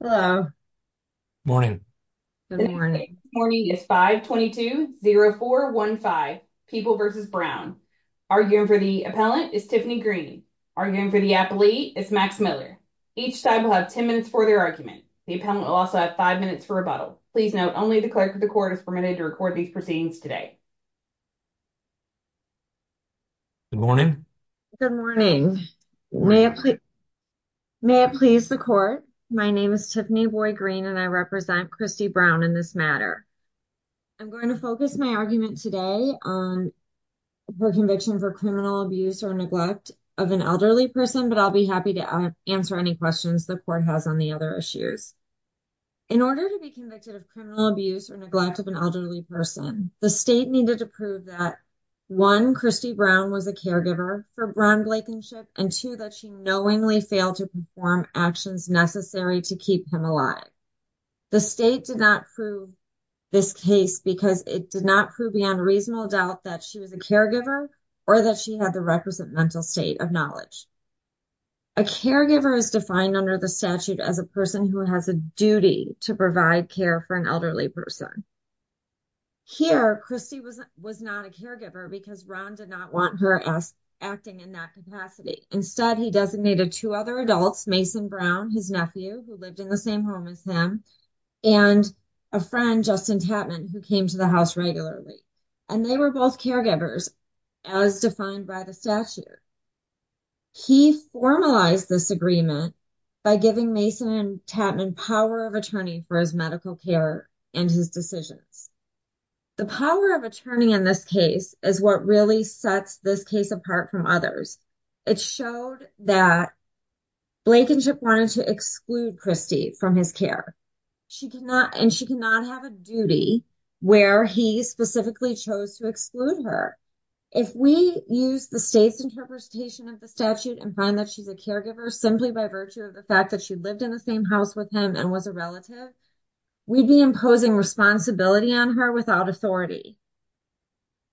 Hello, morning, morning is 520415 people versus Brown arguing for the appellant is Tiffany Green arguing for the athlete is Max Miller. Each side will have 10 minutes for their argument. The appellant will also have 5 minutes for rebuttal. Please note only the clerk of the court is permitted to record these proceedings today. Good morning. Good morning. May I please the court. My name is Tiffany boy green and I represent Christie Brown in this matter. I'm going to focus my argument today on. For conviction for criminal abuse or neglect of an elderly person, but I'll be happy to answer any questions the court has on the other issues. In order to be convicted of criminal abuse, or neglect of an elderly person, the state needed to prove that. 1, Christie Brown was a caregiver for Brown Blake and ship and 2 that she knowingly failed to perform actions necessary to keep him alive. The state did not prove this case because it did not prove beyond reasonable doubt that she was a caregiver or that she had the represent mental state of knowledge. A caregiver is defined under the statute as a person who has a duty to provide care for an elderly person. Here, Christie was was not a caregiver because Ron did not want her as. Acting in that capacity instead, he designated 2 other adults, Mason Brown, his nephew who lived in the same home as him. And a friend, Justin Tappan, who came to the house regularly. And they were both caregivers as defined by the statute. He formalized this agreement. By giving Mason and Tappan power of attorney for his medical care and his decisions. The power of attorney in this case is what really sets this case apart from others. It showed that Blake and ship wanted to exclude Christie from his care. She cannot and she cannot have a duty where he specifically chose to exclude her. If we use the states interpretation of the statute and find that she's a caregiver, simply by virtue of the fact that she lived in the same house with him and was a relative. We'd be imposing responsibility on her without authority.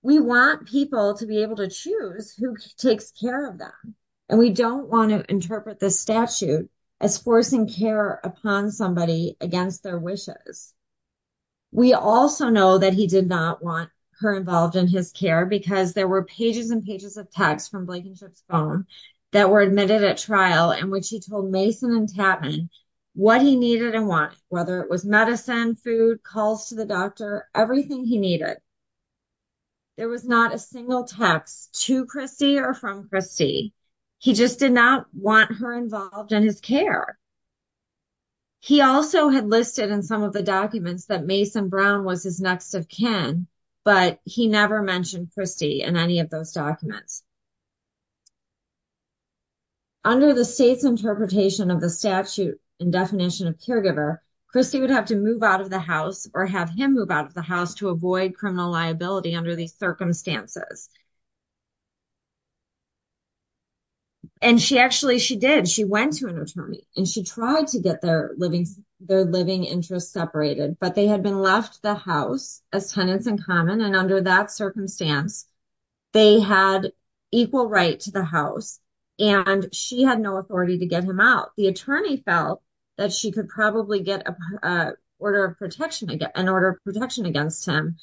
We want people to be able to choose who takes care of them. And we don't want to interpret this statute as forcing care upon somebody against their wishes. We also know that he did not want her involved in his care because there were pages and pages of text from Blake and ship's phone that were admitted at trial and when she told Mason and Tappan. What he needed and want, whether it was medicine, food calls to the doctor, everything he needed. There was not a single text to Chrissy or from Christie. He just did not want her involved in his care. He also had listed in some of the documents that Mason Brown was his next of kin, but he never mentioned Christie and any of those documents. Under the state's interpretation of the statute and definition of caregiver, Christie would have to move out of the house or have him move out of the house to avoid criminal liability under these circumstances. And she actually, she did she went to an attorney and she tried to get their living, their living interest separated, but they had been left the house as tenants in common. And under that circumstance. They had equal right to the house, and she had no authority to get him out. The attorney felt that she could probably get a order of protection to get an order of protection against him.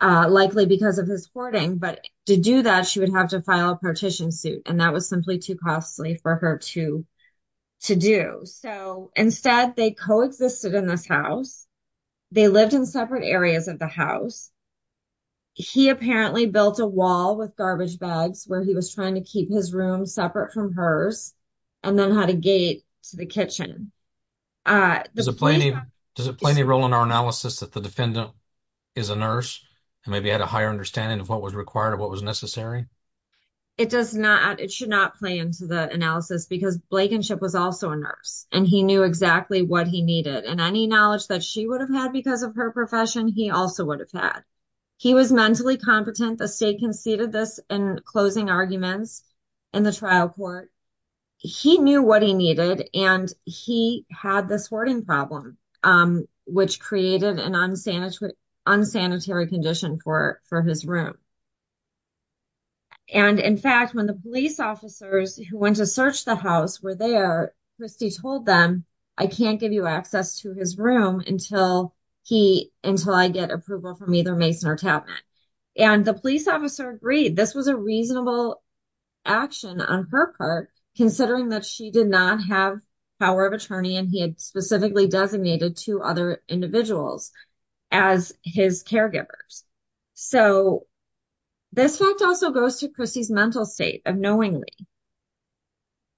Likely, because of his hoarding, but to do that, she would have to file a partition suit and that was simply too costly for her to. To do so, instead, they coexisted in this house. They lived in separate areas of the house. He apparently built a wall with garbage bags where he was trying to keep his room separate from hers. And then how to gate to the kitchen, does it play any role in our analysis that the defendant. Is a nurse and maybe had a higher understanding of what was required of what was necessary. It does not it should not play into the analysis because Blake and ship was also a nurse and he knew exactly what he needed and any knowledge that she would have had because of her profession. He also would have had. He was mentally competent, the state conceded this and closing arguments. In the trial court, he knew what he needed and he had this wording problem, um, which created an unsanitary. Unsanitary condition for for his room, and in fact, when the police officers who went to search the house where they are, Christie told them. I can't give you access to his room until he, until I get approval from either Mason or. And the police officer agreed this was a reasonable. Action on her part, considering that she did not have. Power of attorney, and he had specifically designated to other individuals. As his caregivers, so. This fact also goes to Christie's mental state of knowingly.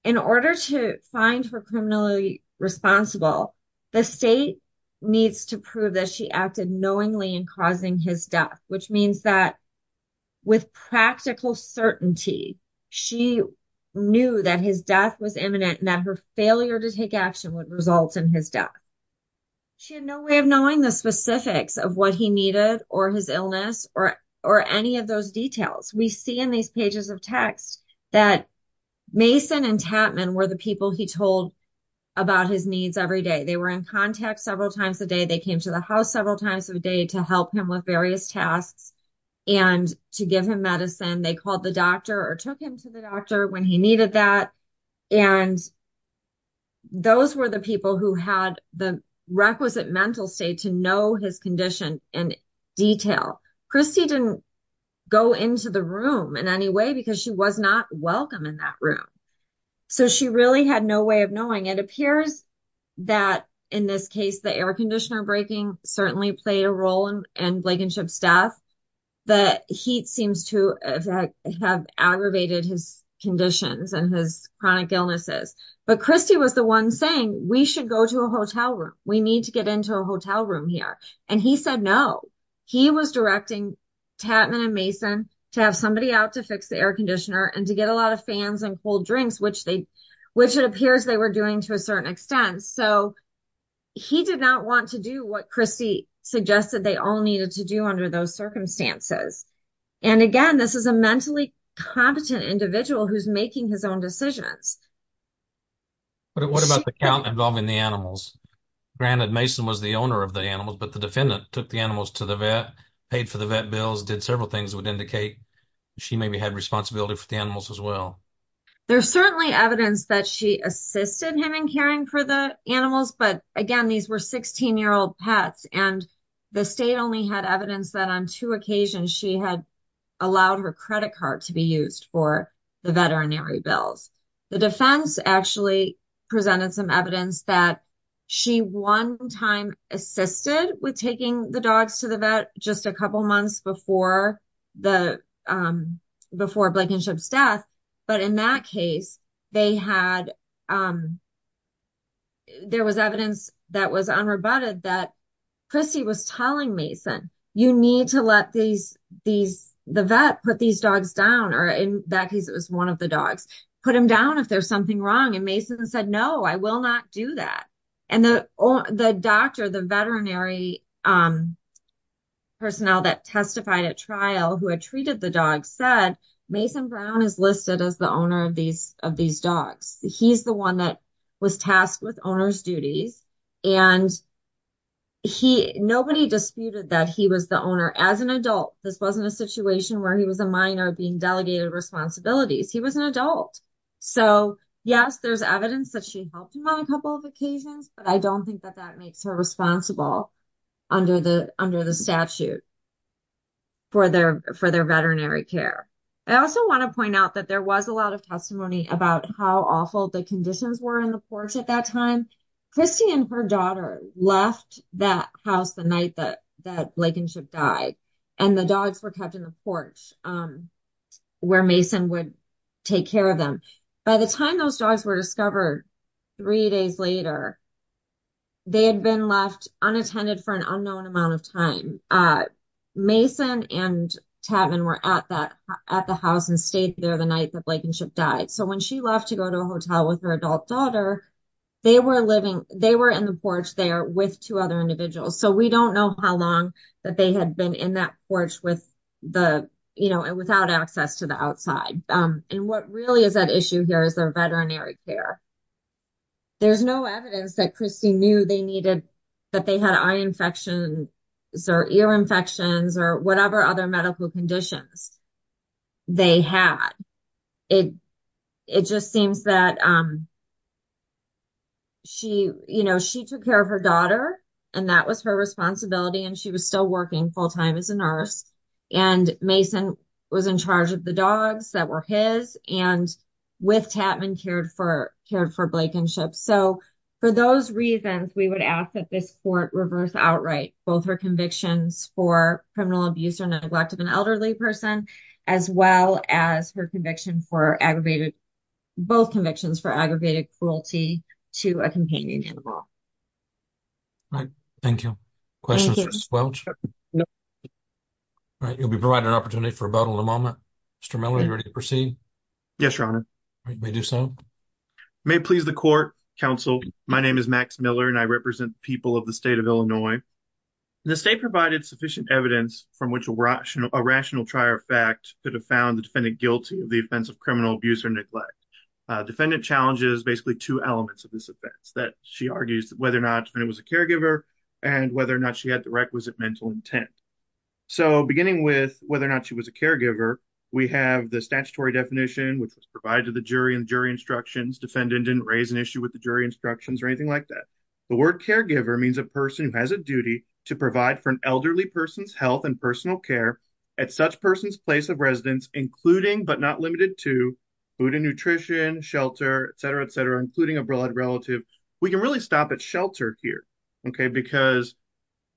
In order to find her criminally responsible. The state needs to prove that she acted knowingly and causing his death, which means that. With practical certainty, she. Knew that his death was imminent and that her failure to take action would result in his death. She had no way of knowing the specifics of what he needed or his illness or or any of those details we see in these pages of text that. Mason and Chapman were the people he told. About his needs every day, they were in contact several times a day. They came to the house several times a day to help him with various tasks. And to give him medicine, they called the doctor or took him to the doctor when he needed that. And those were the people who had the requisite mental state to know his condition and. Detail Christie didn't go into the room in any way because she was not welcome in that room. So, she really had no way of knowing. It appears. That in this case, the air conditioner breaking certainly played a role in and Blake and chip staff. That heat seems to have aggravated his conditions and his chronic illnesses, but Christie was the 1 saying we should go to a hotel room. We need to get into a hotel room here. And he said, no. He was directing Chapman and Mason to have somebody out to fix the air conditioner and to get a lot of fans and cold drinks, which they, which it appears they were doing to a certain extent. So. He did not want to do what Christie suggested they all needed to do under those circumstances. And again, this is a mentally competent individual who's making his own decisions. What about the count involving the animals? Granted, Mason was the owner of the animals, but the defendant took the animals to the vet paid for the vet bills did several things would indicate. She maybe had responsibility for the animals as well. There's certainly evidence that she assisted him in caring for the animals, but again, these were 16 year old pets and. The state only had evidence that on 2 occasions, she had. Allowed her credit card to be used for the veterinary bills. The defense actually presented some evidence that. She 1 time assisted with taking the dogs to the vet just a couple months before. The before Blankenship's death, but in that case, they had. There was evidence that was unrebutted that. Chrissy was telling Mason, you need to let these, these, the vet put these dogs down or in that case, it was 1 of the dogs put him down if there's something wrong. And Mason said, no, I will not do that. And the doctor, the veterinary. Personnel that testified at trial who had treated the dog said Mason Brown is listed as the owner of these of these dogs. He's the 1 that was tasked with owners duties and. He nobody disputed that he was the owner as an adult. This wasn't a situation where he was a minor being delegated responsibilities. He was an adult. So, yes, there's evidence that she helped him on a couple of occasions, but I don't think that that makes her responsible. Under the under the statute for their for their veterinary care. I also want to point out that there was a lot of testimony about how awful the conditions were in the porch at that time. Chrissy and her daughter left that house the night that that Blankenship died and the dogs were kept in the porch. Um, where Mason would take care of them by the time those dogs were discovered. 3 days later, they had been left unattended for an unknown amount of time. Mason and Tavon were at that at the house and stayed there the night that Blankenship died. So, when she left to go to a hotel with her adult daughter. They were living, they were in the porch there with 2 other individuals. So, we don't know how long that they had been in that porch with the, you know, without access to the outside. And what really is that issue here is their veterinary care. There's no evidence that Chrissy knew they needed. That they had eye infections or ear infections or whatever other medical conditions. They had it. It just seems that. She, you know, she took care of her daughter and that was her responsibility and she was still working full time as a nurse. And Mason was in charge of the dogs that were his and with Tavon cared for cared for Blankenship. So, for those reasons, we would ask that this court reverse outright both her convictions for criminal abuse or neglect of an elderly person as well as her conviction for aggravated. Both convictions for aggravated cruelty to a companion animal. All right, thank you questions. All right, you'll be providing an opportunity for about a moment. Mr. Miller, you're ready to proceed. Yes, your honor may do so. May please the court counsel. My name is Max Miller and I represent people of the state of Illinois. The state provided sufficient evidence from which a rational trial fact could have found the defendant guilty of the offense of criminal abuse or neglect. Defendant challenges basically two elements of this offense that she argues whether or not it was a caregiver and whether or not she had the requisite mental intent. So, beginning with whether or not she was a caregiver. We have the statutory definition, which was provided to the jury and jury instructions defendant didn't raise an issue with the jury instructions or anything like that. The word caregiver means a person who has a duty to provide for an elderly person's health and personal care at such person's place of residence, including but not limited to food and nutrition, shelter, etc., etc., including a broad relative. We can really stop at shelter here, okay, because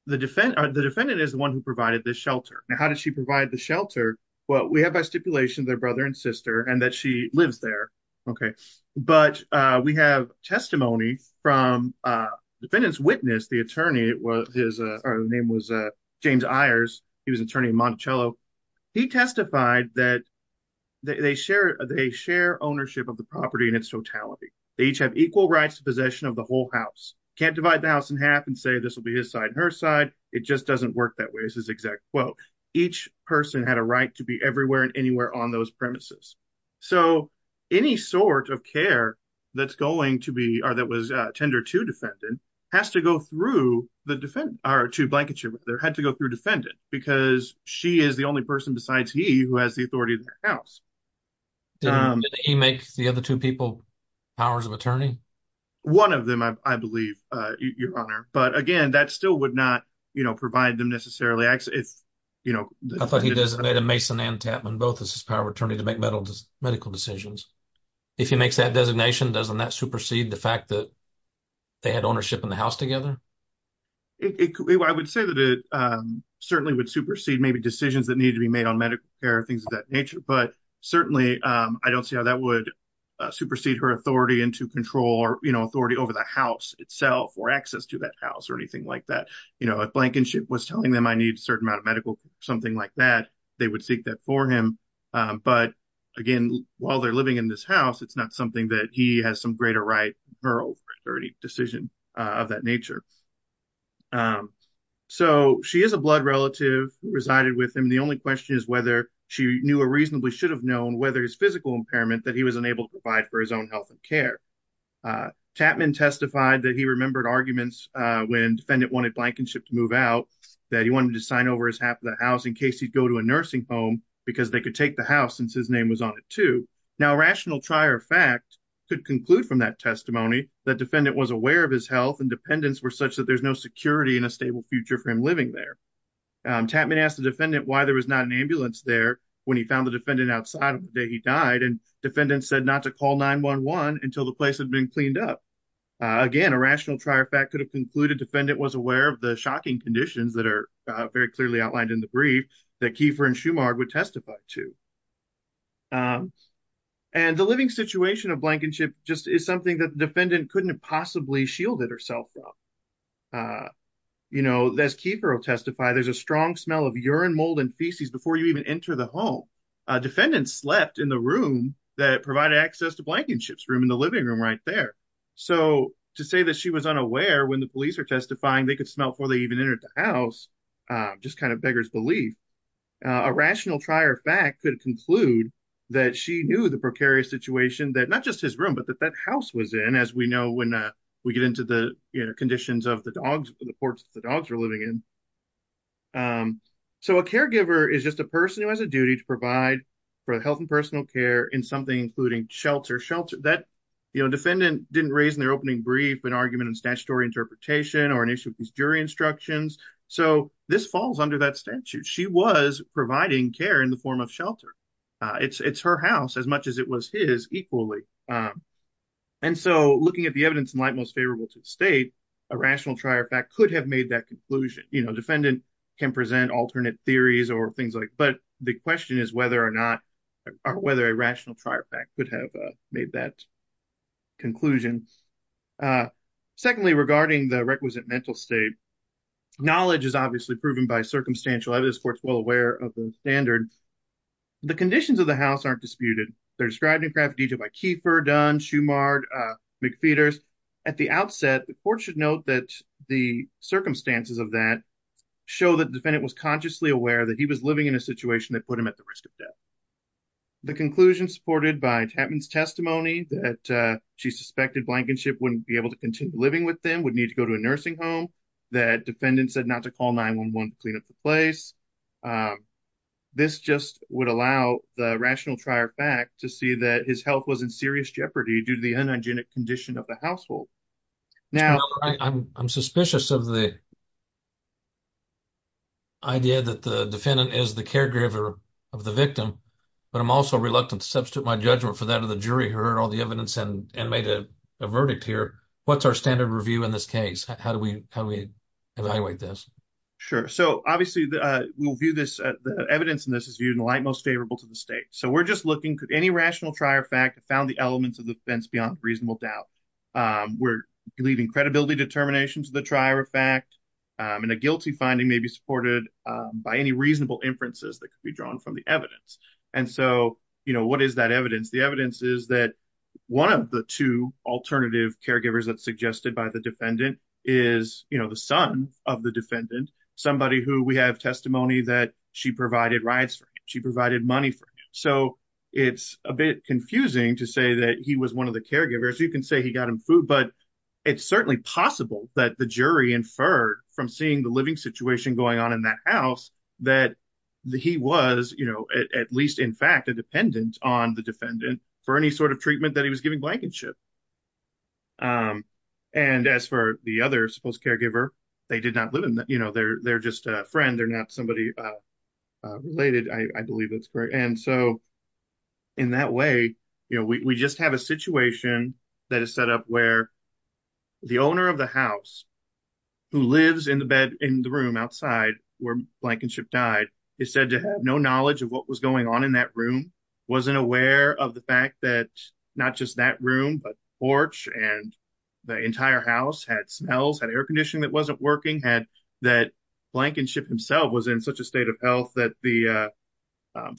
the defendant is the one who provided this shelter. Now, how did she provide the shelter? Well, we have by stipulation their brother and sister and that she lives there. Okay, but we have testimony from defendant's witness. The attorney, his name was James Ayers. He was an attorney in Monticello. He testified that they share ownership of the property in its totality. They each have equal rights to possession of the whole house. Can't divide the house in half and say this will be his side and her side. It just doesn't work that way is his exact quote. Each person had a right to be everywhere and anywhere on those premises. So, any sort of care that's going to be or that was tendered to defendant has to go through the defendant or to blanket ship. There had to go through defendant because she is the only person besides he who has the authority of the house. Did he make the other two people powers of attorney? One of them, I believe, your honor, but again, that still would not provide them necessarily access. I thought he designated Mason and Tapman both as his power of attorney to make medical decisions. If he makes that designation, doesn't that supersede the fact that they had ownership in the house together? I would say that it certainly would supersede maybe decisions that need to be made on medical care, things of that nature. But certainly, I don't see how that would supersede her authority into control or authority over the house itself or access to that house or anything like that. If Blankenship was telling them I need a certain amount of medical, something like that, they would seek that for him. But again, while they're living in this house, it's not something that he has some greater right or any decision of that nature. So, she is a blood relative who resided with him. The only question is whether she knew or reasonably should have known whether his physical impairment that he was unable to provide for his own health and care. Tapman testified that he remembered arguments when defendant wanted Blankenship to move out, that he wanted to sign over his half of the house in case he'd go to a nursing home because they could take the house since his name was on it too. Now, a rational trier of fact could conclude from that testimony that defendant was aware of his health and dependents were such that there's no security and a stable future for him living there. Tapman asked the defendant why there was not an ambulance there when he found the defendant outside of the day he died. And defendant said not to call 911 until the place had been cleaned up. Again, a rational trier fact could have concluded defendant was aware of the shocking conditions that are very clearly outlined in the brief that Kiefer and Schumard would testify to. And the living situation of Blankenship just is something that the defendant couldn't have possibly shielded herself from. You know, as Kiefer will testify, there's a strong smell of urine, mold, and feces before you even enter the home. A defendant slept in the room that provided access to Blankenship's room in the living room right there. So, to say that she was unaware when the police are testifying, they could smell before they even entered the house, just kind of beggars belief. A rational trier of fact could conclude that she knew the precarious situation that not just his room but that that house was in as we know when we get into the conditions of the ports the dogs were living in. So, a caregiver is just a person who has a duty to provide for health and personal care in something including shelter. That defendant didn't raise in their opening brief an argument in statutory interpretation or an issue of these jury instructions, so this falls under that statute. She was providing care in the form of shelter. It's her house as much as it was his equally. And so, looking at the evidence in light most favorable to the state, a rational trier fact could have made that conclusion. You know, defendant can present alternate theories or things like, but the question is whether or not or whether a rational trier fact could have made that conclusion. Secondly, regarding the requisite mental state, knowledge is obviously proven by circumstantial evidence. The court's well aware of the standard. The conditions of the house aren't disputed. They're described in graffiti by Kiefer, Dunn, Schumard, McPheeters. At the outset, the court should note that the circumstances of that show that defendant was consciously aware that he was living in a situation that put him at the risk of death. The conclusion supported by Tatman's testimony that she suspected Blankenship wouldn't be able to continue living with them, would need to go to a nursing home, that defendant said not to call 9-1-1 to clean up the place. This just would allow the rational trier fact to see that his health was in serious jeopardy due the unhygienic condition of the household. Now, I'm suspicious of the idea that the defendant is the caregiver of the victim, but I'm also reluctant to substitute my judgment for that of the jury who heard all the evidence and made a verdict here. What's our standard review in this case? How do we evaluate this? Sure. So obviously, we'll view this, the evidence in this is viewed in the light most favorable to the state. So we're just looking, any rational trier fact found the elements of the fence beyond reasonable doubt. We're leaving credibility determination to the trier fact, and a guilty finding may be supported by any reasonable inferences that could be drawn from the evidence. And so, you know, what is that evidence? The evidence is that one of the two alternative caregivers that's suggested by the defendant is, you know, the son of the defendant, somebody who we have testimony that she provided rides, she provided money. So it's a bit confusing to say that he was one of the caregivers, you can say he got him food. But it's certainly possible that the jury inferred from seeing the living situation going on in that house, that he was, you know, at least in fact, a dependent on the defendant for any sort of treatment that he was giving blankenship. And as for the other supposed caregiver, they did not live in that, you know, they're just a friend, they're not somebody related, I believe it's great. And so, in that way, you know, we just have a situation that is set up where the owner of the house, who lives in the bed in the room outside where blankenship died, is said to have no knowledge of what was going on in that room, wasn't aware of the fact that not just that room, but porch and the entire house had smells, had air conditioning that wasn't working, had that blankenship himself was in such a state of health that the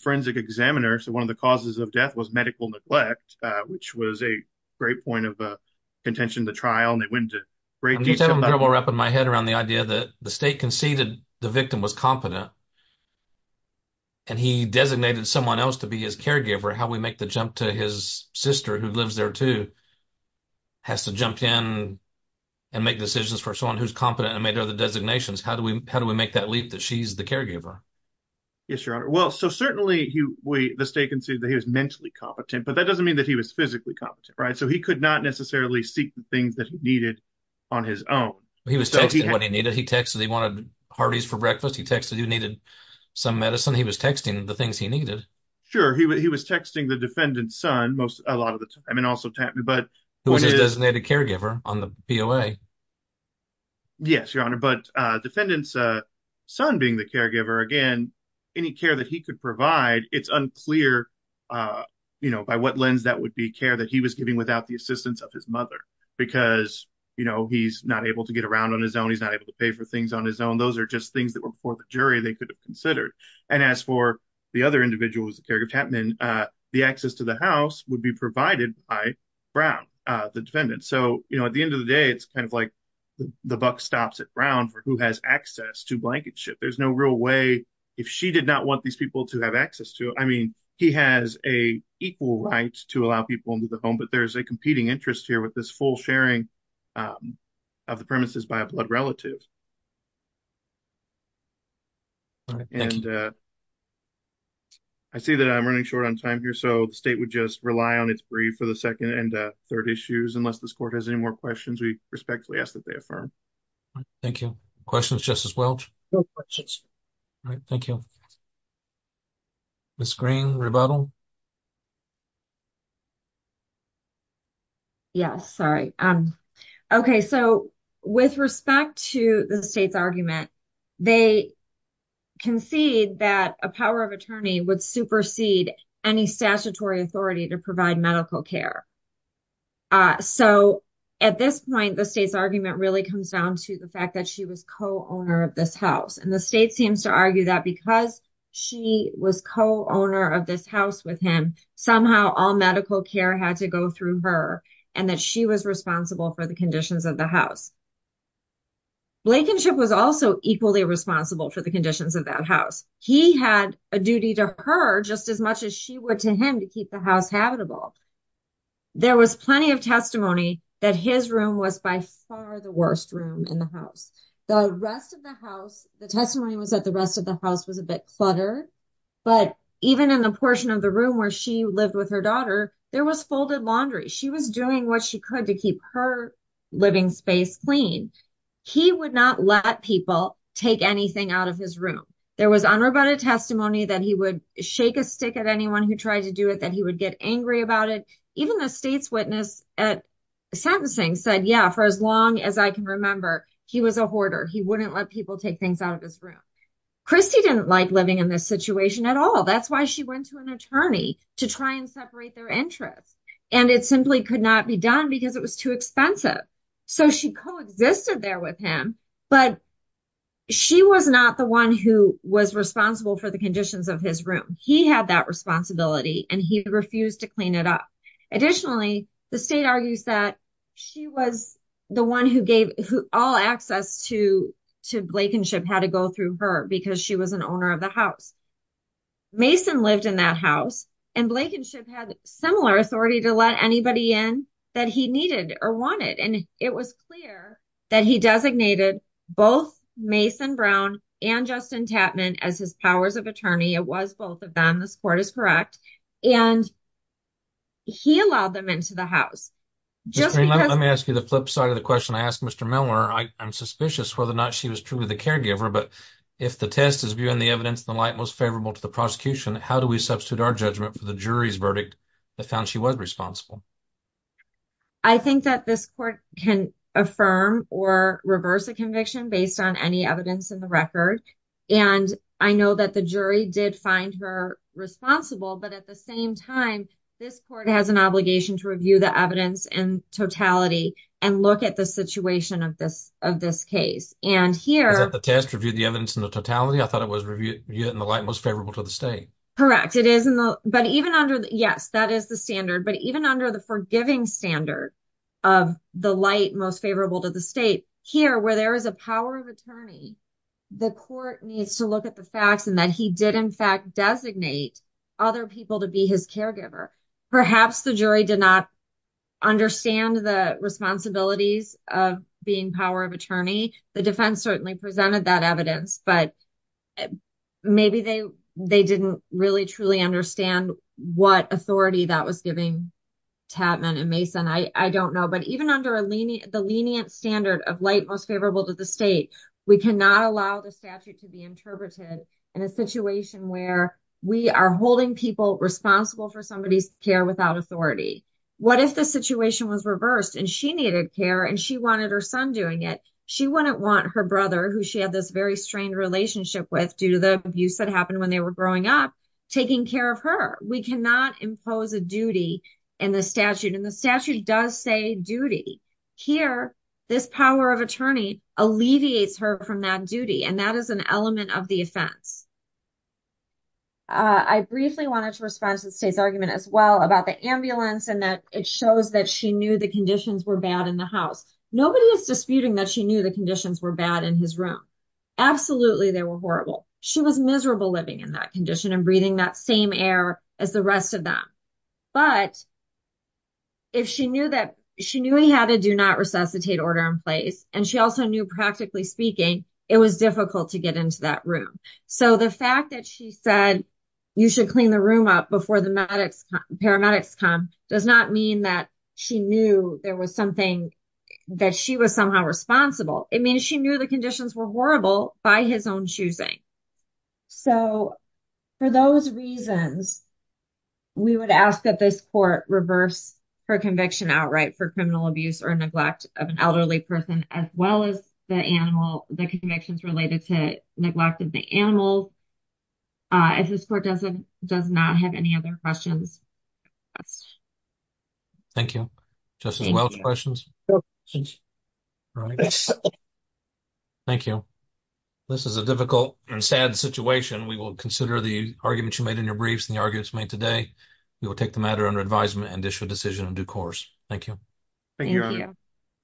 forensic examiner, so one of the causes of death was medical neglect, which was a great point of contention to trial and they went into great detail. I'm having trouble wrapping my head around the idea that the state conceded the victim was competent. And he designated someone else to be his caregiver, how we make the jump to his sister who lives there too, has to jump in and make decisions for someone who's competent and made other designations, how do we make that leap that she's the caregiver? Yes, your honor. Well, so certainly the state conceded that he was mentally competent, but that doesn't mean that he was physically competent, right? So he could not necessarily seek the things that he needed on his own. He was texting what he needed, he texted he wanted hearties for breakfast, he texted he needed some medicine, he was texting the things he needed. Sure, he was texting the defendant's son most a lot of the time and also tap me, but who was his designated caregiver on the POA? Yes, your honor. But defendant's son being the caregiver, again, any care that he could provide, it's unclear by what lens that would be care that he was giving without the assistance of his mother, because he's not able to get around on his own, he's not able to pay for things on his own. Those are just things that were before the caregiver tapman, the access to the house would be provided by Brown, the defendant. So, you know, at the end of the day, it's kind of like, the buck stops at Brown for who has access to blanket ship, there's no real way, if she did not want these people to have access to, I mean, he has a equal right to allow people into the home, but there's a competing interest here with this full sharing of the premises by a blood relative. And I see that I'm running short on time here, so the state would just rely on its brief for the second and third issues, unless this court has any more questions, we respectfully ask that they affirm. Thank you. Questions, Justice Welch? No questions. All right, thank you. Ms. Green, rebuttal? Yes, sorry. Okay, so with respect to the state's argument, they concede that a power of attorney would supersede any statutory authority to provide medical care. So, at this point, the state's argument really comes down to the fact that she was co-owner of this house, and the state seems to argue that because she was co-owner of this house with him, somehow all medical care had to go through her, and that she was responsible for the conditions of the house. Blankenship was also equally responsible for the conditions of that house. He had a duty to her just as much as she would to him to keep the house habitable. There was plenty of testimony that his room was by far the worst room in the house. The rest of the house, the testimony was that the rest of the house was a bit cluttered, but even in the portion of the room where she lived with her daughter, there was folded laundry. She was doing what she could to keep her living space clean. He would not let people take anything out of his room. There was unrebutted testimony that he would shake a stick at anyone who tried to do it, that he would get angry about it. Even the state's at sentencing said, yeah, for as long as I can remember, he was a hoarder. He wouldn't let people take things out of his room. Christy didn't like living in this situation at all. That's why she went to an attorney to try and separate their interests, and it simply could not be done because it was too expensive. So she coexisted there with him, but she was not the one who was responsible for the conditions of his room. He had that responsibility, and he refused to clean it up. Additionally, the state argues that she was the one who gave all access to Blakenship, had to go through her because she was an owner of the house. Mason lived in that house, and Blakenship had similar authority to let anybody in that he needed or wanted. It was clear that he designated both Mason Brown and Justin Tapman as his powers of attorney. It was both of and he allowed them into the house. Let me ask you the flip side of the question. I asked Mr. Miller, I'm suspicious whether or not she was truly the caregiver, but if the test is viewing the evidence in the light most favorable to the prosecution, how do we substitute our judgment for the jury's verdict that found she was responsible? I think that this court can affirm or reverse a conviction based on any evidence in the record, and I know that the jury did find her responsible, but at the same time, this court has an obligation to review the evidence in totality and look at the situation of this case. Is that the test, review the evidence in the totality? I thought it was review it in the light most favorable to the state. Correct. Yes, that is the standard, but even under the forgiving standard of the light most favorable to the state, here where there is a power of attorney, the court needs to look at the facts and that he did in fact designate other people to be his caregiver. Perhaps the jury did not understand the responsibilities of being power of attorney. The defense certainly presented that evidence, but maybe they didn't really truly understand what authority that was giving Tatman and Mason. I don't know, but even under the lenient standard of light most favorable to the state, we cannot allow the statute to be interpreted in a situation where we are holding people responsible for somebody's care without authority. What if the situation was reversed and she needed care and she wanted her son doing it? She wouldn't want her brother who she had this very strained relationship with due to the abuse that happened when they were growing up taking care of her. We cannot impose a duty in the statute and the statute does say duty. Here, this power of attorney alleviates her from that duty and that is an element of the offense. I briefly wanted to respond to the state's argument as well about the ambulance and that it shows that she knew the conditions were bad in the house. Nobody is disputing that she knew the conditions were bad in his room. Absolutely, they were horrible. She was miserable living in that condition and breathing that same air as the rest of them, but if she knew he had a do not resuscitate order in place and she also knew practically speaking, it was difficult to get into that room. The fact that she said you should clean the room up before the paramedics come does not mean that she knew there was something that she was somehow responsible. It means she knew the conditions were horrible by his own choosing. For those reasons, we would ask that this court reverse her conviction outright for criminal abuse or neglect of an elderly person as well as the animal, the convictions related to neglect of the animal. If this court does not have any other questions. Thank you. Justice Welch, questions? Thank you. This is a difficult and sad situation. We will consider the argument you made in your today. We will take the matter under advisement and issue a decision in due course. Thank you.